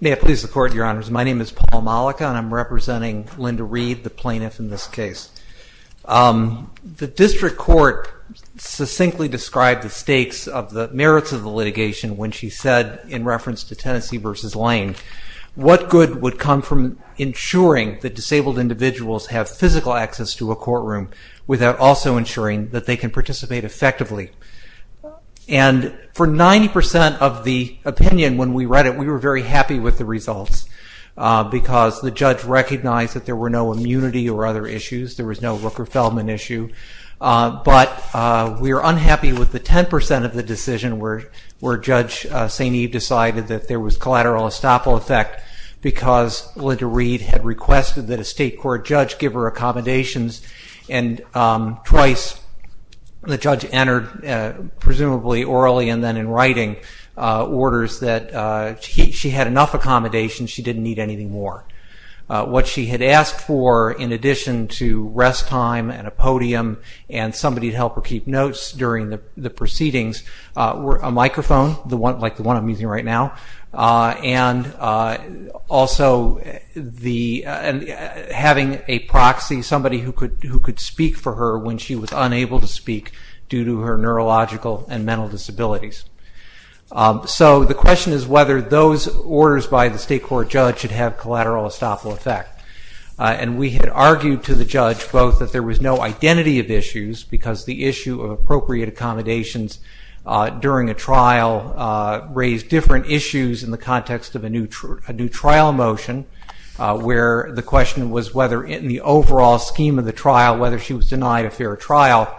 May it please the Court, Your Honors. My name is Paul Mollica and I'm representing Linda Reed, the plaintiff in this case. The District Court succinctly described the stakes of the merits of the litigation when she said, in reference to Tennessee v. Lane, what good would come from ensuring that disabled individuals have physical access to a courtroom without also ensuring that they can participate effectively? And for 90% of the opinion when we read it, we were very happy with the results because the judge recognized that there were no immunity or other issues, there was no Rooker-Feldman issue, but we were unhappy with the 10% of the decision where Judge St. Eve decided that there was collateral estoppel effect because Linda Reed had requested that a state court judge give her accommodations and twice the judge entered, presumably orally and then in writing, orders that she had enough accommodations, she didn't need anything more. What she had asked for, in addition to rest time and a podium and somebody to help her keep notes during the proceedings, a microphone, like the one I'm using right now, and also having a proxy, somebody who could speak for her when she was unable to speak due to her neurological and mental disabilities. So the question is whether those orders by the state court judge should have collateral estoppel effect. And we had argued to the judge both that there was no identity of issues because the issue of appropriate accommodations during a trial raised different issues in the context of a new trial motion where the question was whether in the overall scheme of the trial, whether she was denied a fair trial.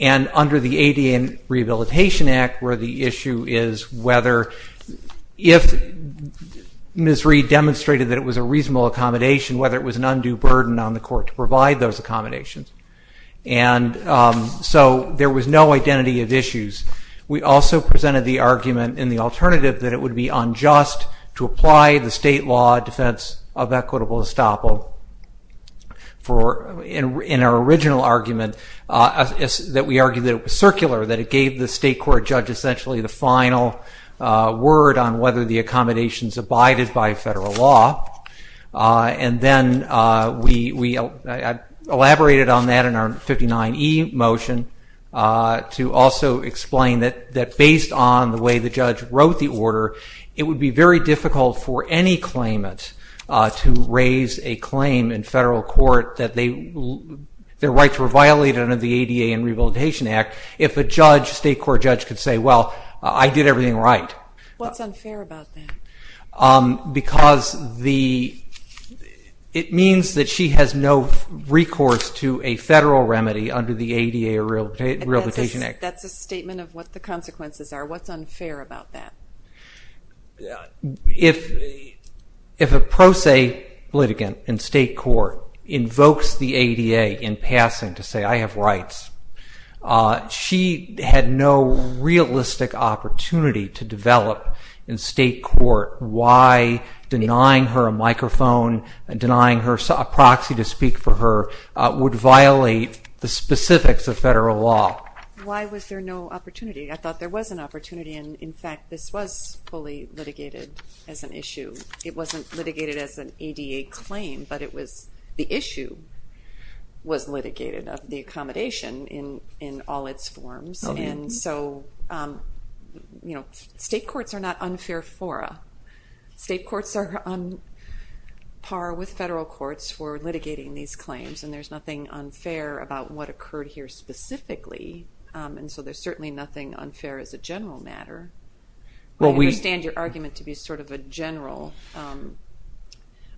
And under the ADA and Rehabilitation Act, where the issue is whether if Ms. Reed demonstrated that it was a reasonable accommodation, whether it was an undue burden on the court to provide those accommodations. And so there was no identity of issues. We also presented the argument in the alternative that it would be unjust to apply the state law defense of equitable estoppel. In our original argument, we argued that it was circular, that it gave the state court judge essentially the final word on whether the accommodations abided by federal law. And then we elaborated on that in our 59E motion to also explain that based on the way the judge wrote the order, it would be very difficult for any claimant to raise a claim in federal court that their rights were violated under the ADA and Rehabilitation Act if a state court judge could say, well, I did everything right. What's unfair about that? Because it means that she has no recourse to a federal remedy under the ADA or Rehabilitation Act. That's a statement of what the consequences are. What's unfair about that? If a pro se litigant in state court invokes the ADA in passing to say, I have rights, she had no realistic opportunity to develop in state court why denying her a microphone, denying her a proxy to speak for her, would violate the specifics of federal law. Why was there no opportunity? I thought there was an opportunity. In fact, this was fully litigated as an issue. It wasn't litigated as an ADA claim, but the issue was litigated, the accommodation in all its forms. State courts are not unfair fora. State courts are on par with federal courts for litigating these claims. There's nothing unfair about what occurred here specifically. There's certainly nothing unfair as a general matter. I understand your argument to be sort of a general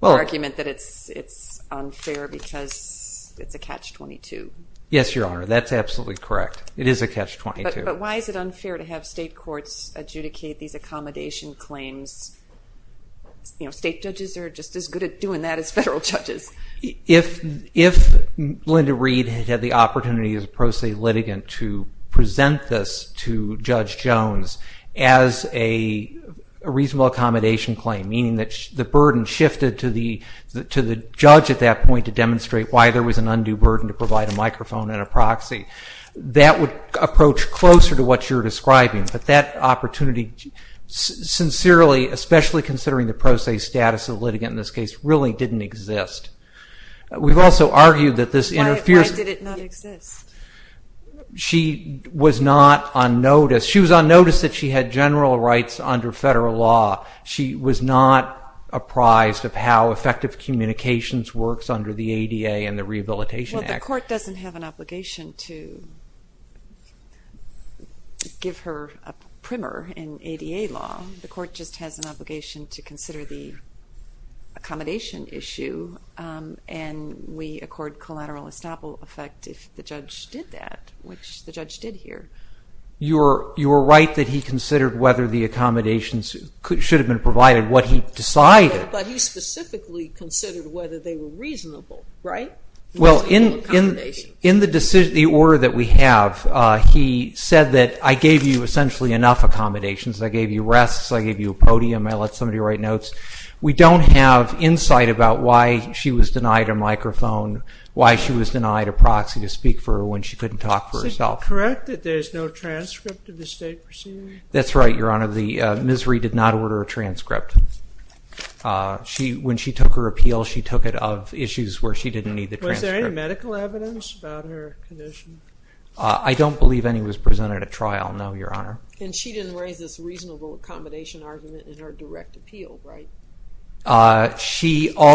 argument that it's unfair because it's a catch-22. Yes, Your Honor, that's absolutely correct. It is a catch-22. But why is it unfair to have state courts adjudicate these accommodation claims? State judges are just as good at doing that as federal judges. If Linda Reed had had the opportunity as a pro se litigant to present this to Judge Jones as a reasonable accommodation claim, meaning that the burden shifted to the judge at that point to demonstrate why there was an undue burden to provide a microphone and a proxy, that would approach closer to what you're describing. But that opportunity, sincerely, especially considering the pro se status of the litigant in this case, really didn't exist. Why did it not exist? She was on notice that she had general rights under federal law. She was not apprised of how effective communications works under the ADA and the Rehabilitation Act. The court doesn't have an obligation to give her a primer in ADA law. The court just has an obligation to consider the accommodation issue, and we accord collateral estoppel effect if the judge did that, which the judge did here. You're right that he considered whether the accommodations should have been provided, what he decided. But he specifically considered whether they were reasonable, right? Well, in the order that we have, he said that I gave you essentially enough accommodations. I gave you rests. I gave you a podium. I let somebody write notes. We don't have insight about why she was denied a microphone, why she was denied a proxy to speak for her when she couldn't talk for herself. Is it correct that there's no transcript of the state proceedings? That's right, Your Honor. Ms. Ree did not order a transcript. When she took her appeal, she took it of issues where she didn't need the transcript. Was there any medical evidence about her condition? I don't believe any was presented at trial, no, Your Honor. And she didn't raise this reasonable accommodation argument in her direct appeal, right? All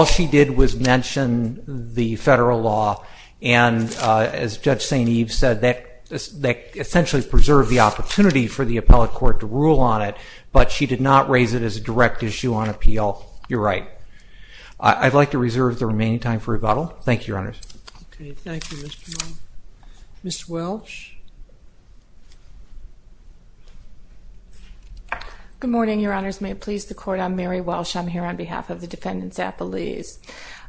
she did was mention the federal law. And as Judge St. Eve said, that essentially preserved the opportunity for the appellate court to rule on it. But she did not raise it as a direct issue on appeal. You're right. I'd like to reserve the remaining time for rebuttal. Thank you, Your Honors. Thank you, Mr. Mullen. Ms. Welsh? Good morning, Your Honors. May it please the Court, I'm Mary Welsh. I'm here on behalf of the defendants' appellees.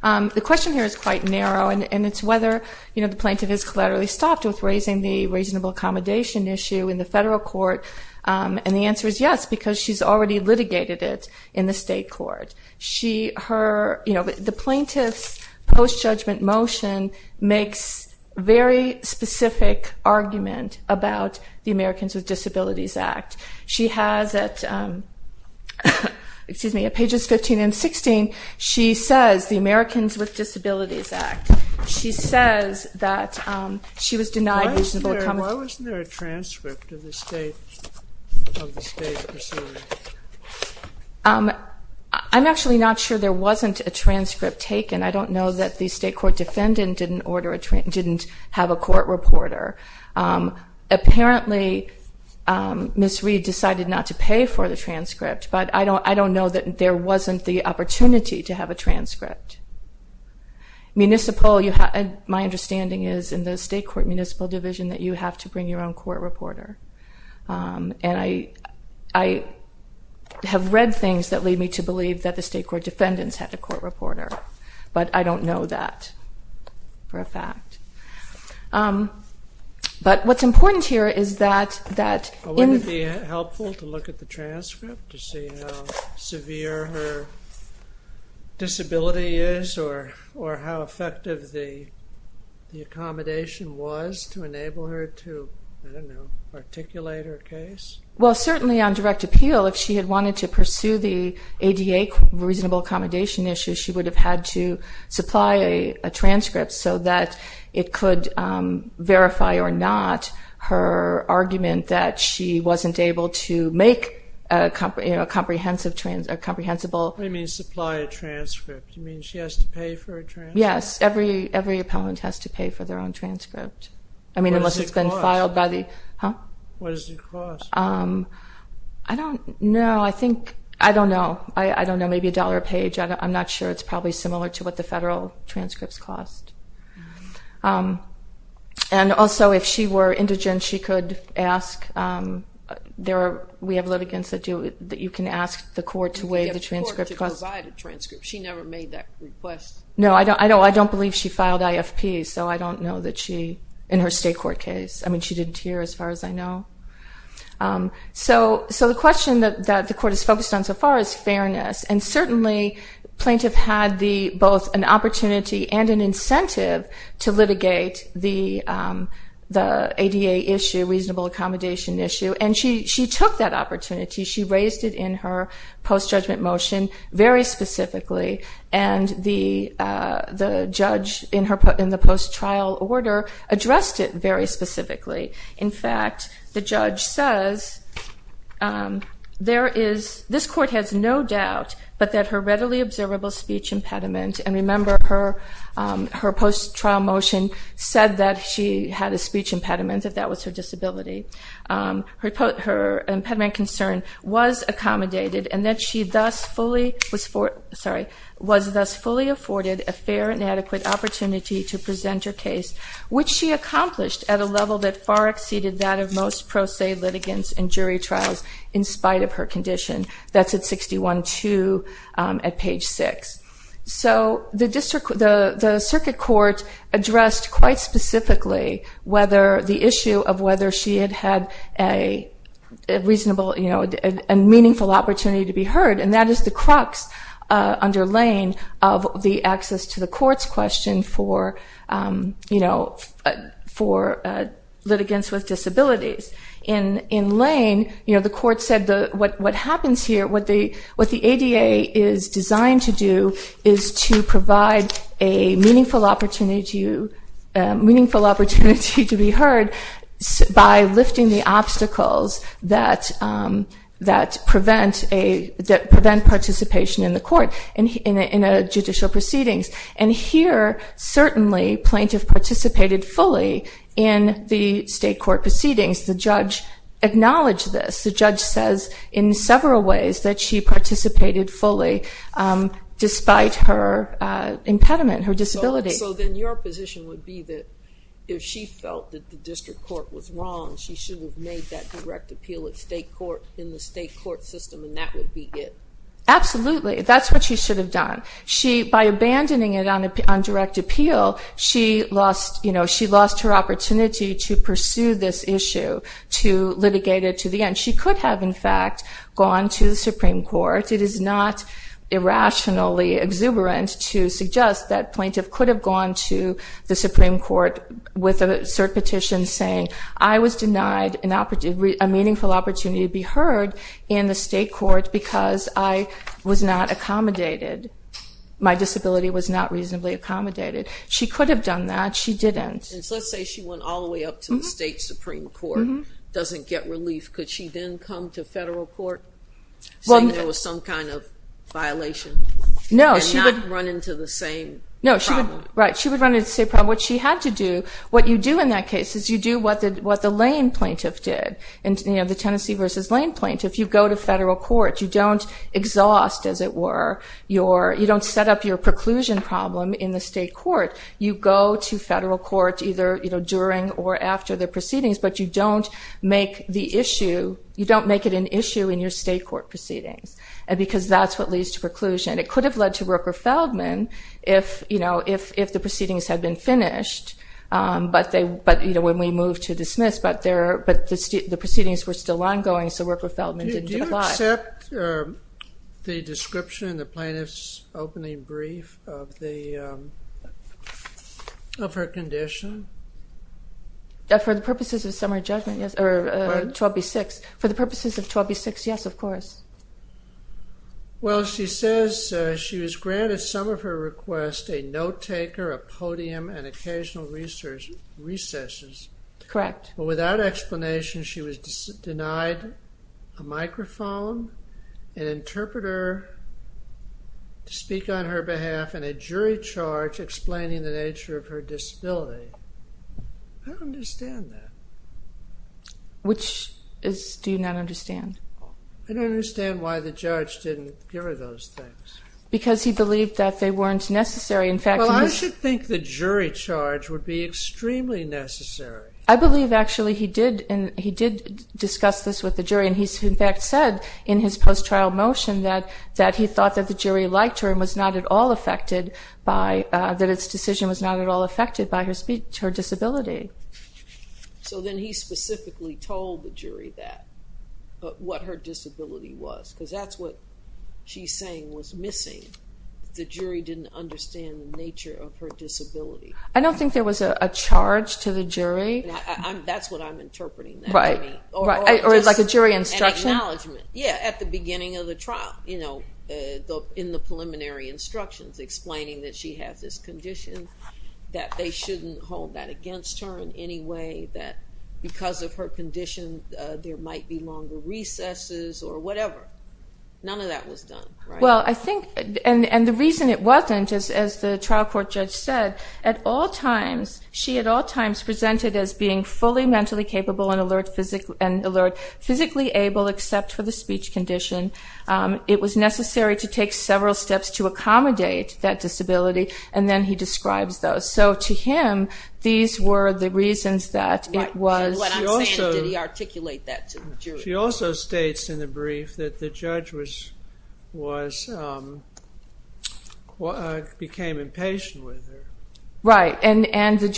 The question here is quite narrow, and it's whether the plaintiff has collaterally stopped with raising the reasonable accommodation issue in the federal court. And the answer is yes, because she's already litigated it in the state court. The plaintiff's post-judgment motion makes a very specific argument about the Americans with Disabilities Act. She has it at pages 15 and 16. She says the Americans with Disabilities Act. She says that she was denied reasonable accommodation. Why wasn't there a transcript of the state proceeding? I'm actually not sure there wasn't a transcript taken. I don't know that the state court defendant didn't have a court reporter. Apparently, Ms. Reed decided not to pay for the transcript, but I don't know that there wasn't the opportunity to have a transcript. My understanding is in the state court municipal division that you have to bring your own court reporter. And I have read things that lead me to believe that the state court defendants had a court reporter, but I don't know that for a fact. But what's important here is that... Was it helpful to look at the transcript to see how severe her disability is or how effective the accommodation was to enable her to articulate her case? Well, certainly on direct appeal, if she had wanted to pursue the ADA reasonable accommodation issue, she would have had to supply a transcript so that it could verify or not her argument that she wasn't able to make a comprehensible... What do you mean supply a transcript? You mean she has to pay for a transcript? Yes, every appellant has to pay for their own transcript. I mean, unless it's been filed by the... What does it cost? I don't know. I think... I don't know. I don't know. Maybe a dollar a page. I'm not sure. It's probably similar to what the federal transcripts cost. And also, if she were indigent, she could ask... We have litigants that you can ask the court to weigh the transcript cost. You can get the court to provide a transcript. She never made that request. No, I don't believe she filed IFP, so I don't know that she... in her state court case. I mean, she didn't hear as far as I know. So the question that the court has focused on so far is fairness, and certainly plaintiff had both an opportunity and an incentive to litigate the ADA issue, reasonable accommodation issue, and she took that opportunity. She raised it in her post-judgment motion very specifically, and the judge in the post-trial order addressed it very specifically. In fact, the judge says, And remember, her post-trial motion said that she had a speech impediment, that that was her disability. Her impediment concern was accommodated, and that she was thus fully afforded a fair and adequate opportunity to present her case, which she accomplished at a level that far exceeded that of most pro se litigants in jury trials in spite of her condition. That's at 61-2 at page 6. So the circuit court addressed quite specifically the issue of whether she had had a reasonable and meaningful opportunity to be heard, and that is the crux under Lane of the access to the courts question for litigants with disabilities. In Lane, the court said what happens here, what the ADA is designed to do is to provide a meaningful opportunity to be heard by lifting the obstacles that prevent participation in the court in a judicial proceedings. And here, certainly, plaintiff participated fully in the state court proceedings. The judge acknowledged this. The judge says in several ways that she participated fully despite her impediment, her disability. So then your position would be that if she felt that the district court was wrong, she should have made that direct appeal in the state court system, and that would be it? Absolutely. That's what she should have done. By abandoning it on direct appeal, she lost her opportunity to pursue this issue, to litigate it to the end. She could have, in fact, gone to the Supreme Court. It is not irrationally exuberant to suggest that plaintiff could have gone to the Supreme Court with a cert petition saying, I was denied a meaningful opportunity to be heard in the state court because I was not accommodated. My disability was not reasonably accommodated. She could have done that. She didn't. Since, let's say, she went all the way up to the state Supreme Court, doesn't get relief, could she then come to federal court saying there was some kind of violation and not run into the same problem? Right. She would run into the same problem. What she had to do, what you do in that case is you do what the Lane plaintiff did, the Tennessee versus Lane plaintiff. You go to federal court. You don't exhaust, as it were, you don't set up your preclusion problem in the state court. You go to federal court either during or after the proceedings, but you don't make it an issue in your state court proceedings because that's what leads to preclusion. It could have led to Rooker-Feldman if the proceedings had been finished, but when we moved to dismiss, but the proceedings were still ongoing, so Rooker-Feldman didn't apply. Do you accept the description in the plaintiff's opening brief of her condition? For the purposes of summary judgment, yes, or 12b-6. For the purposes of 12b-6, yes, of course. Well, she says she was granted some of her requests, a note-taker, a podium, and occasional recesses. Correct. But without explanation, she was denied a microphone, an interpreter to speak on her behalf, and a jury charge explaining the nature of her disability. I don't understand that. Which do you not understand? I don't understand why the judge didn't hear those things. Because he believed that they weren't necessary. Well, I should think the jury charge would be extremely necessary. I believe, actually, he did discuss this with the jury, and he, in fact, said in his post-trial motion that he thought that the jury liked her and that its decision was not at all affected by her disability. So then he specifically told the jury that, what her disability was, because that's what she's saying was missing. The jury didn't understand the nature of her disability. I don't think there was a charge to the jury. That's what I'm interpreting. Right. Or like a jury instruction? An acknowledgment. Yeah, at the beginning of the trial, in the preliminary instructions, explaining that she has this condition, that they shouldn't hold that against her in any way, that because of her condition there might be longer recesses or whatever. None of that was done. Well, I think, and the reason it wasn't, as the trial court judge said, at all times she at all times presented as being fully mentally capable and alert, physically able except for the speech condition. It was necessary to take several steps to accommodate that disability, and then he describes those. So to him, these were the reasons that it was. What I'm saying, did he articulate that to the jury? She also states in the brief that the judge became impatient with her. Right, and the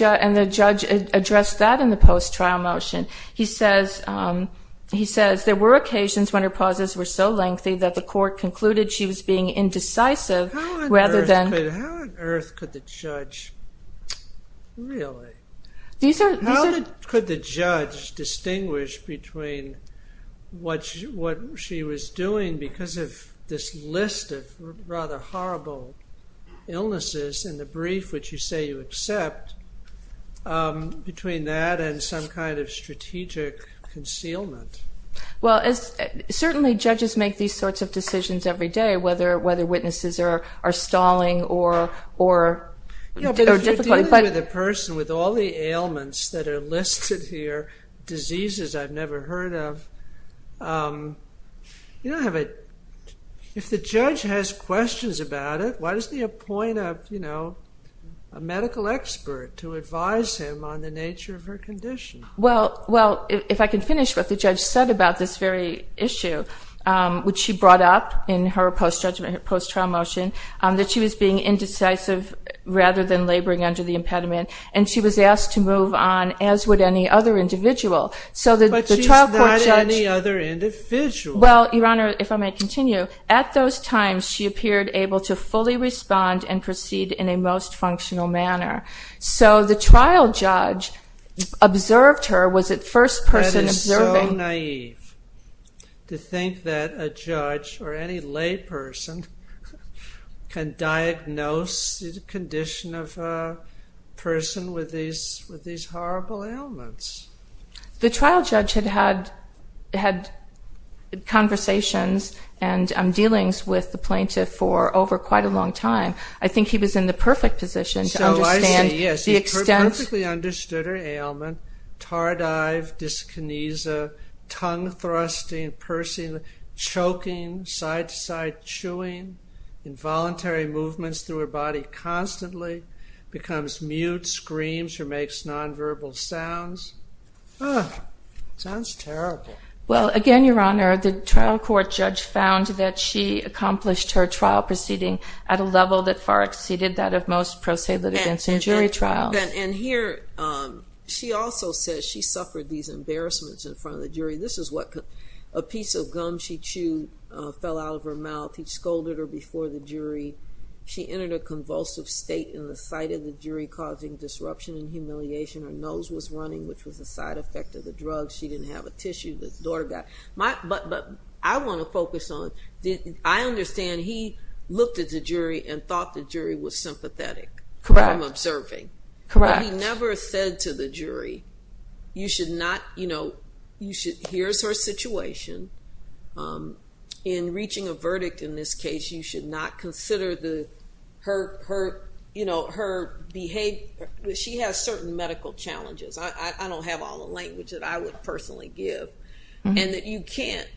judge addressed that in the post-trial motion. He says, there were occasions when her pauses were so lengthy that the court concluded she was being indecisive rather than. How on earth could the judge, really? How could the judge distinguish between what she was doing because of this list of rather horrible illnesses in the brief, which you say you accept, between that and some kind of strategic concealment? Well, certainly judges make these sorts of decisions every day, whether witnesses are stalling or difficult. If you're dealing with a person with all the ailments that are listed here, diseases I've never heard of, if the judge has questions about it, why doesn't he appoint a medical expert to advise him on the nature of her condition? Well, if I can finish what the judge said about this very issue, which she brought up in her post-trial motion, that she was being indecisive rather than laboring under the impediment, and she was asked to move on, as would any other individual. But she's not any other individual. Well, Your Honor, if I may continue, at those times she appeared able to fully respond and proceed in a most functional manner. So the trial judge observed her, was it first person observing? That is so naive to think that a judge or any lay person can diagnose the condition of a person with these horrible ailments. The trial judge had had conversations and dealings with the plaintiff for over quite a long time. I think he was in the perfect position to understand the extent... So I say, yes, he perfectly understood her ailment. Tardive, dyskinesia, tongue-thrusting, choking, side-to-side chewing, involuntary movements through her body constantly, becomes mute, screams, or makes non-verbal sounds. Ah, sounds terrible. Well, again, Your Honor, the trial court judge found that she accomplished her trial proceeding at a level that far exceeded that of most pro se litigants in jury trials. And here she also says she suffered these embarrassments in front of the jury. This is what a piece of gum she chewed fell out of her mouth. He scolded her before the jury. She entered a convulsive state in the sight of the jury, causing disruption and humiliation. Her nose was running, which was a side effect of the drug. She didn't have a tissue. But I want to focus on, I understand he looked at the jury and thought the jury was sympathetic. Correct. From observing. Correct. But he never said to the jury, you should not, you know, here's her situation. In reaching a verdict in this case, you should not consider her behavior. She has certain medical challenges. I don't have all the language that I would personally give. And that you can't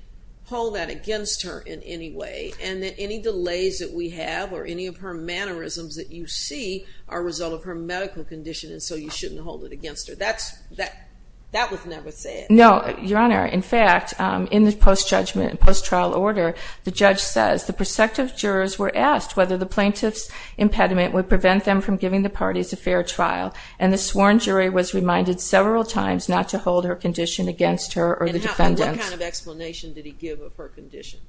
hold that against her in any way. And that any delays that we have, or any of her mannerisms that you see, are a result of her medical condition, and so you shouldn't hold it against her. That was never said. No, Your Honor. In fact, in the post-judgment, post-trial order, the judge says, the prosecutive jurors were asked whether the plaintiff's impediment would prevent them from giving the parties a fair trial, and the sworn jury was reminded several times not to hold her condition against her or the defendants. And what kind of explanation did he give of her condition?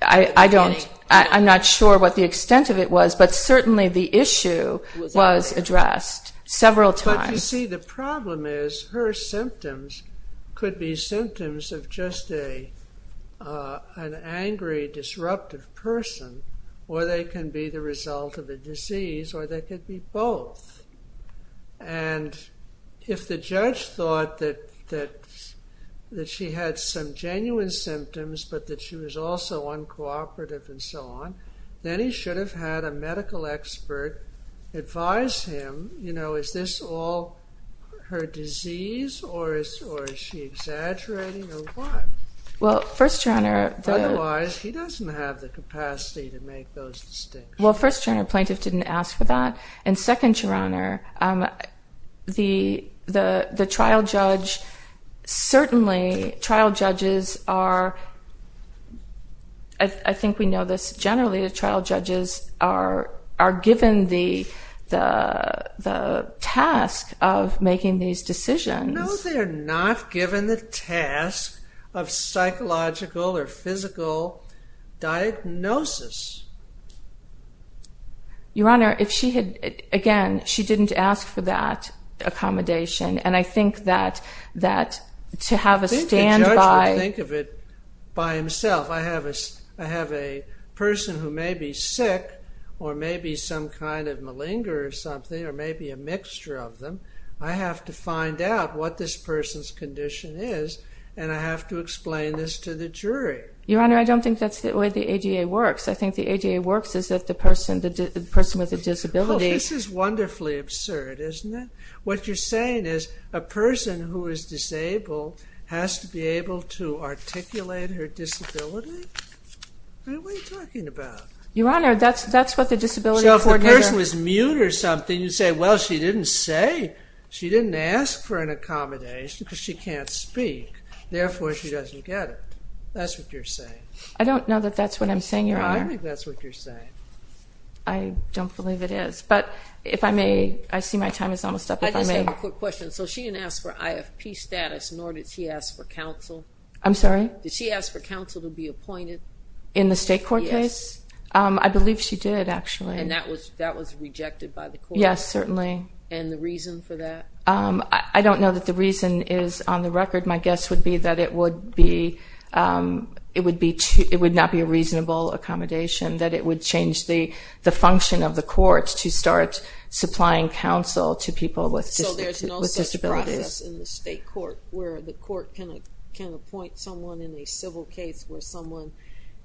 I don't, I'm not sure what the extent of it was, but certainly the issue was addressed several times. You see, the problem is, her symptoms could be symptoms of just an angry, disruptive person, or they can be the result of a disease, or they could be both. And if the judge thought that she had some genuine symptoms, but that she was also uncooperative and so on, then he should have had a medical expert advise him, you know, is this all her disease, or is she exaggerating, or what? Well, first, Your Honor. Otherwise, he doesn't have the capacity to make those distinctions. Well, first, Your Honor, plaintiff didn't ask for that. And second, Your Honor, the trial judge, certainly trial judges are, I think we know this generally, the trial judges are given the task of making these decisions. No, they're not given the task of psychological or physical diagnosis. Your Honor, if she had, again, she didn't ask for that accommodation. And I think that to have a standby... By himself, I have a person who may be sick, or may be some kind of malinger or something, or may be a mixture of them. I have to find out what this person's condition is, and I have to explain this to the jury. Your Honor, I don't think that's the way the ADA works. I think the ADA works is that the person with a disability... Oh, this is wonderfully absurd, isn't it? What you're saying is a person who is disabled has to be able to articulate her disability? What are you talking about? Your Honor, that's what the disability coordinator... So if the person was mute or something, you'd say, well, she didn't ask for an accommodation because she can't speak. Therefore, she doesn't get it. That's what you're saying. I don't know that that's what I'm saying, Your Honor. I think that's what you're saying. I don't believe it is. But if I may, I see my time is almost up. I just have a quick question. So she didn't ask for IFP status, nor did she ask for counsel? I'm sorry? Did she ask for counsel to be appointed? In the state court case? Yes. I believe she did, actually. And that was rejected by the court? Yes, certainly. And the reason for that? I don't know that the reason is on the record. My guess would be that it would not be a reasonable accommodation, that it would change the function of the court to start supplying counsel to people with disabilities. So there's no such process in the state court where the court can appoint someone in a civil case where someone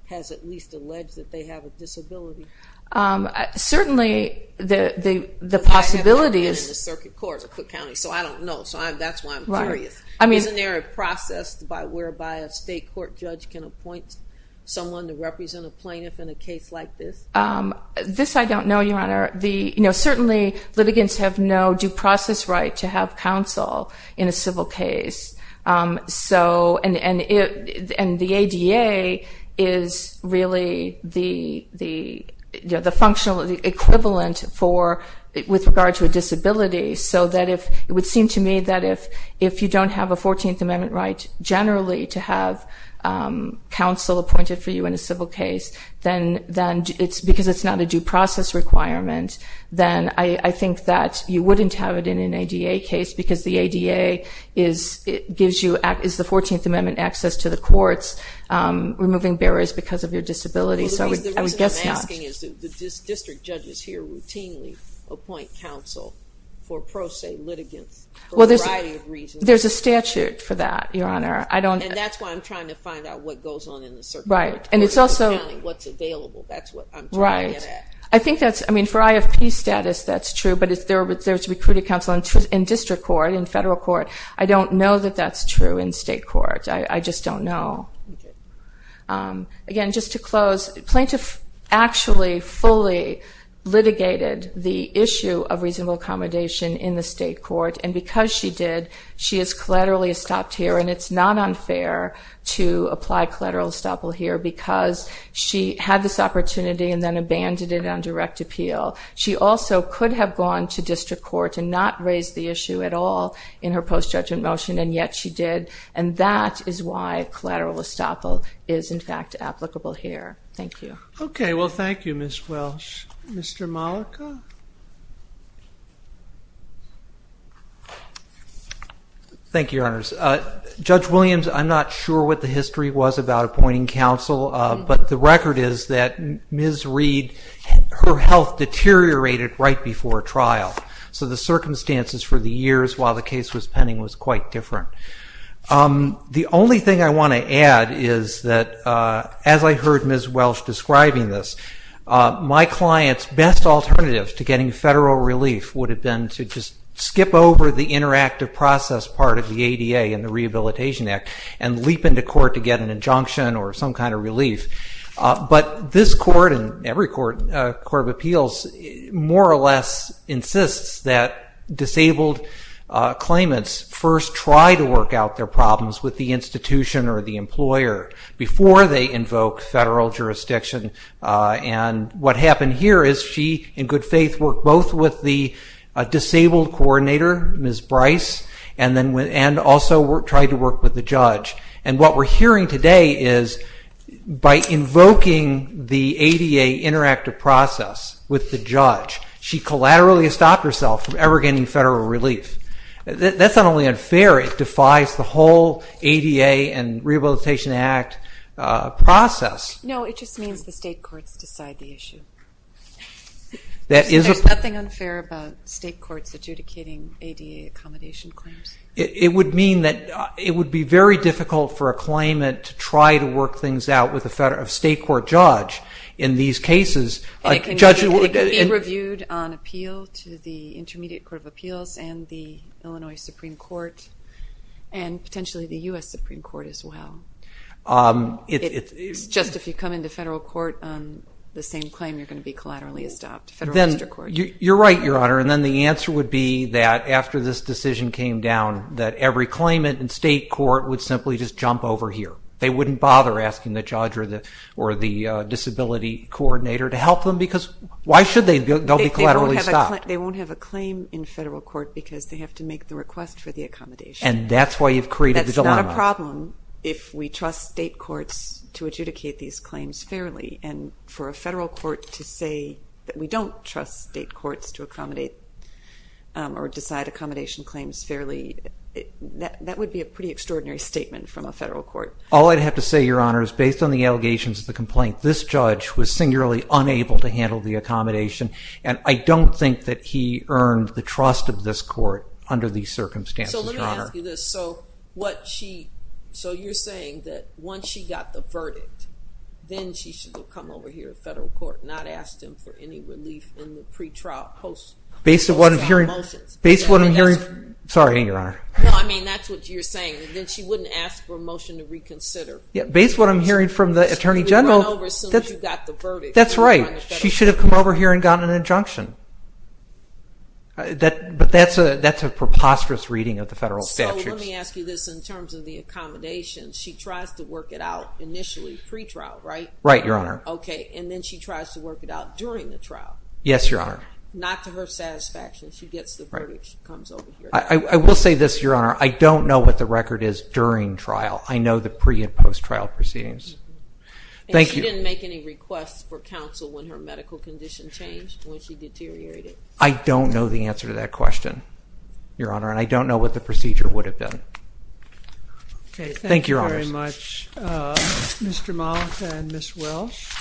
has at least alleged that they have a disability? Certainly, the possibility is – But I haven't been in the circuit court of Cook County, so I don't know. So that's why I'm curious. Isn't there a process whereby a state court judge can appoint someone to represent a plaintiff in a case like this? This I don't know, Your Honor. Certainly, litigants have no due process right to have counsel in a civil case. And the ADA is really the equivalent with regard to a disability. So it would seem to me that if you don't have a 14th Amendment right generally to have counsel appointed for you in a civil case, because it's not a due process requirement, then I think that you wouldn't have it in an ADA case because the ADA gives you the 14th Amendment access to the courts, removing barriers because of your disability. So I would guess not. The reason I'm asking is that district judges here routinely appoint counsel for pro se litigants for a variety of reasons. There's a statute for that, Your Honor. And that's why I'm trying to find out what goes on in the circuit court. Right. And it's also what's available. That's what I'm trying to get at. Right. I think that's, I mean, for IFP status that's true, but if there's recruited counsel in district court, in federal court, I don't know that that's true in state court. I just don't know. Again, just to close, the plaintiff actually fully litigated the issue of reasonable accommodation in the state court. And because she did, she has collaterally stopped here. And it's not unfair to apply collateral estoppel here because she had this opportunity and then abandoned it on direct appeal. She also could have gone to district court and not raised the issue at all in her post-judgment motion, and yet she did. And that is why collateral estoppel is, in fact, applicable here. Thank you. Okay. Well, thank you, Ms. Welsh. Mr. Malika? Thank you, Your Honors. Judge Williams, I'm not sure what the history was about appointing counsel, but the record is that Ms. Reed, her health deteriorated right before trial. So the circumstances for the years while the case was pending was quite different. The only thing I want to add is that as I heard Ms. Welsh describing this, my client's best alternative to getting federal relief would have been to just skip over the interactive process part of the ADA and the Rehabilitation Act and leap into court to get an injunction or some kind of relief. But this court, and every court of appeals, more or less insists that disabled claimants first try to work out their problems with the institution or the employer before they invoke federal jurisdiction. And what happened here is she, in good faith, worked both with the disabled coordinator, Ms. Bryce, and also tried to work with the judge. And what we're hearing today is by invoking the ADA interactive process with the judge, she collaterally stopped herself from ever getting federal relief. That's not only unfair, it defies the whole ADA and Rehabilitation Act process. No, it just means the state courts decide the issue. There's nothing unfair about state courts adjudicating ADA accommodation claims. It would mean that it would be very difficult for a claimant to try to work things out with a state court judge in these cases. It can be reviewed on appeal to the Intermediate Court of Appeals and the Illinois Supreme Court and potentially the U.S. Supreme Court as well. It's just if you come into federal court on the same claim, you're going to be collaterally stopped. Federal district court. You're right, Your Honor. And then the answer would be that after this decision came down, that every claimant in state court would simply just jump over here. They wouldn't bother asking the judge or the disability coordinator to help them because why should they? They'll be collaterally stopped. They won't have a claim in federal court because they have to make the request for the accommodation. And that's why you've created the dilemma. It would be a problem if we trust state courts to adjudicate these claims fairly and for a federal court to say that we don't trust state courts to accommodate or decide accommodation claims fairly. That would be a pretty extraordinary statement from a federal court. All I'd have to say, Your Honor, is based on the allegations of the complaint, this judge was singularly unable to handle the accommodation. And I don't think that he earned the trust of this court under these circumstances, Your Honor. So let me ask you this. So you're saying that once she got the verdict, then she should have come over here to federal court and not asked him for any relief in the pre-trial post-trial motions? Based on what I'm hearing from the Attorney General, that's right. She should have come over here and gotten an injunction. But that's a preposterous reading of the federal statute. So let me ask you this in terms of the accommodation. She tries to work it out initially pre-trial, right? Right, Your Honor. Okay. And then she tries to work it out during the trial. Yes, Your Honor. Not to her satisfaction. She gets the verdict. She comes over here. I will say this, Your Honor. I don't know what the record is during trial. I know the pre- and post-trial proceedings. And she didn't make any requests for counsel when her medical condition changed when she deteriorated. I don't know the answer to that question, Your Honor. And I don't know what the procedure would have been. Okay. Thank you, Your Honors. Thank you very much, Mr. Mollica and Ms. Welsh.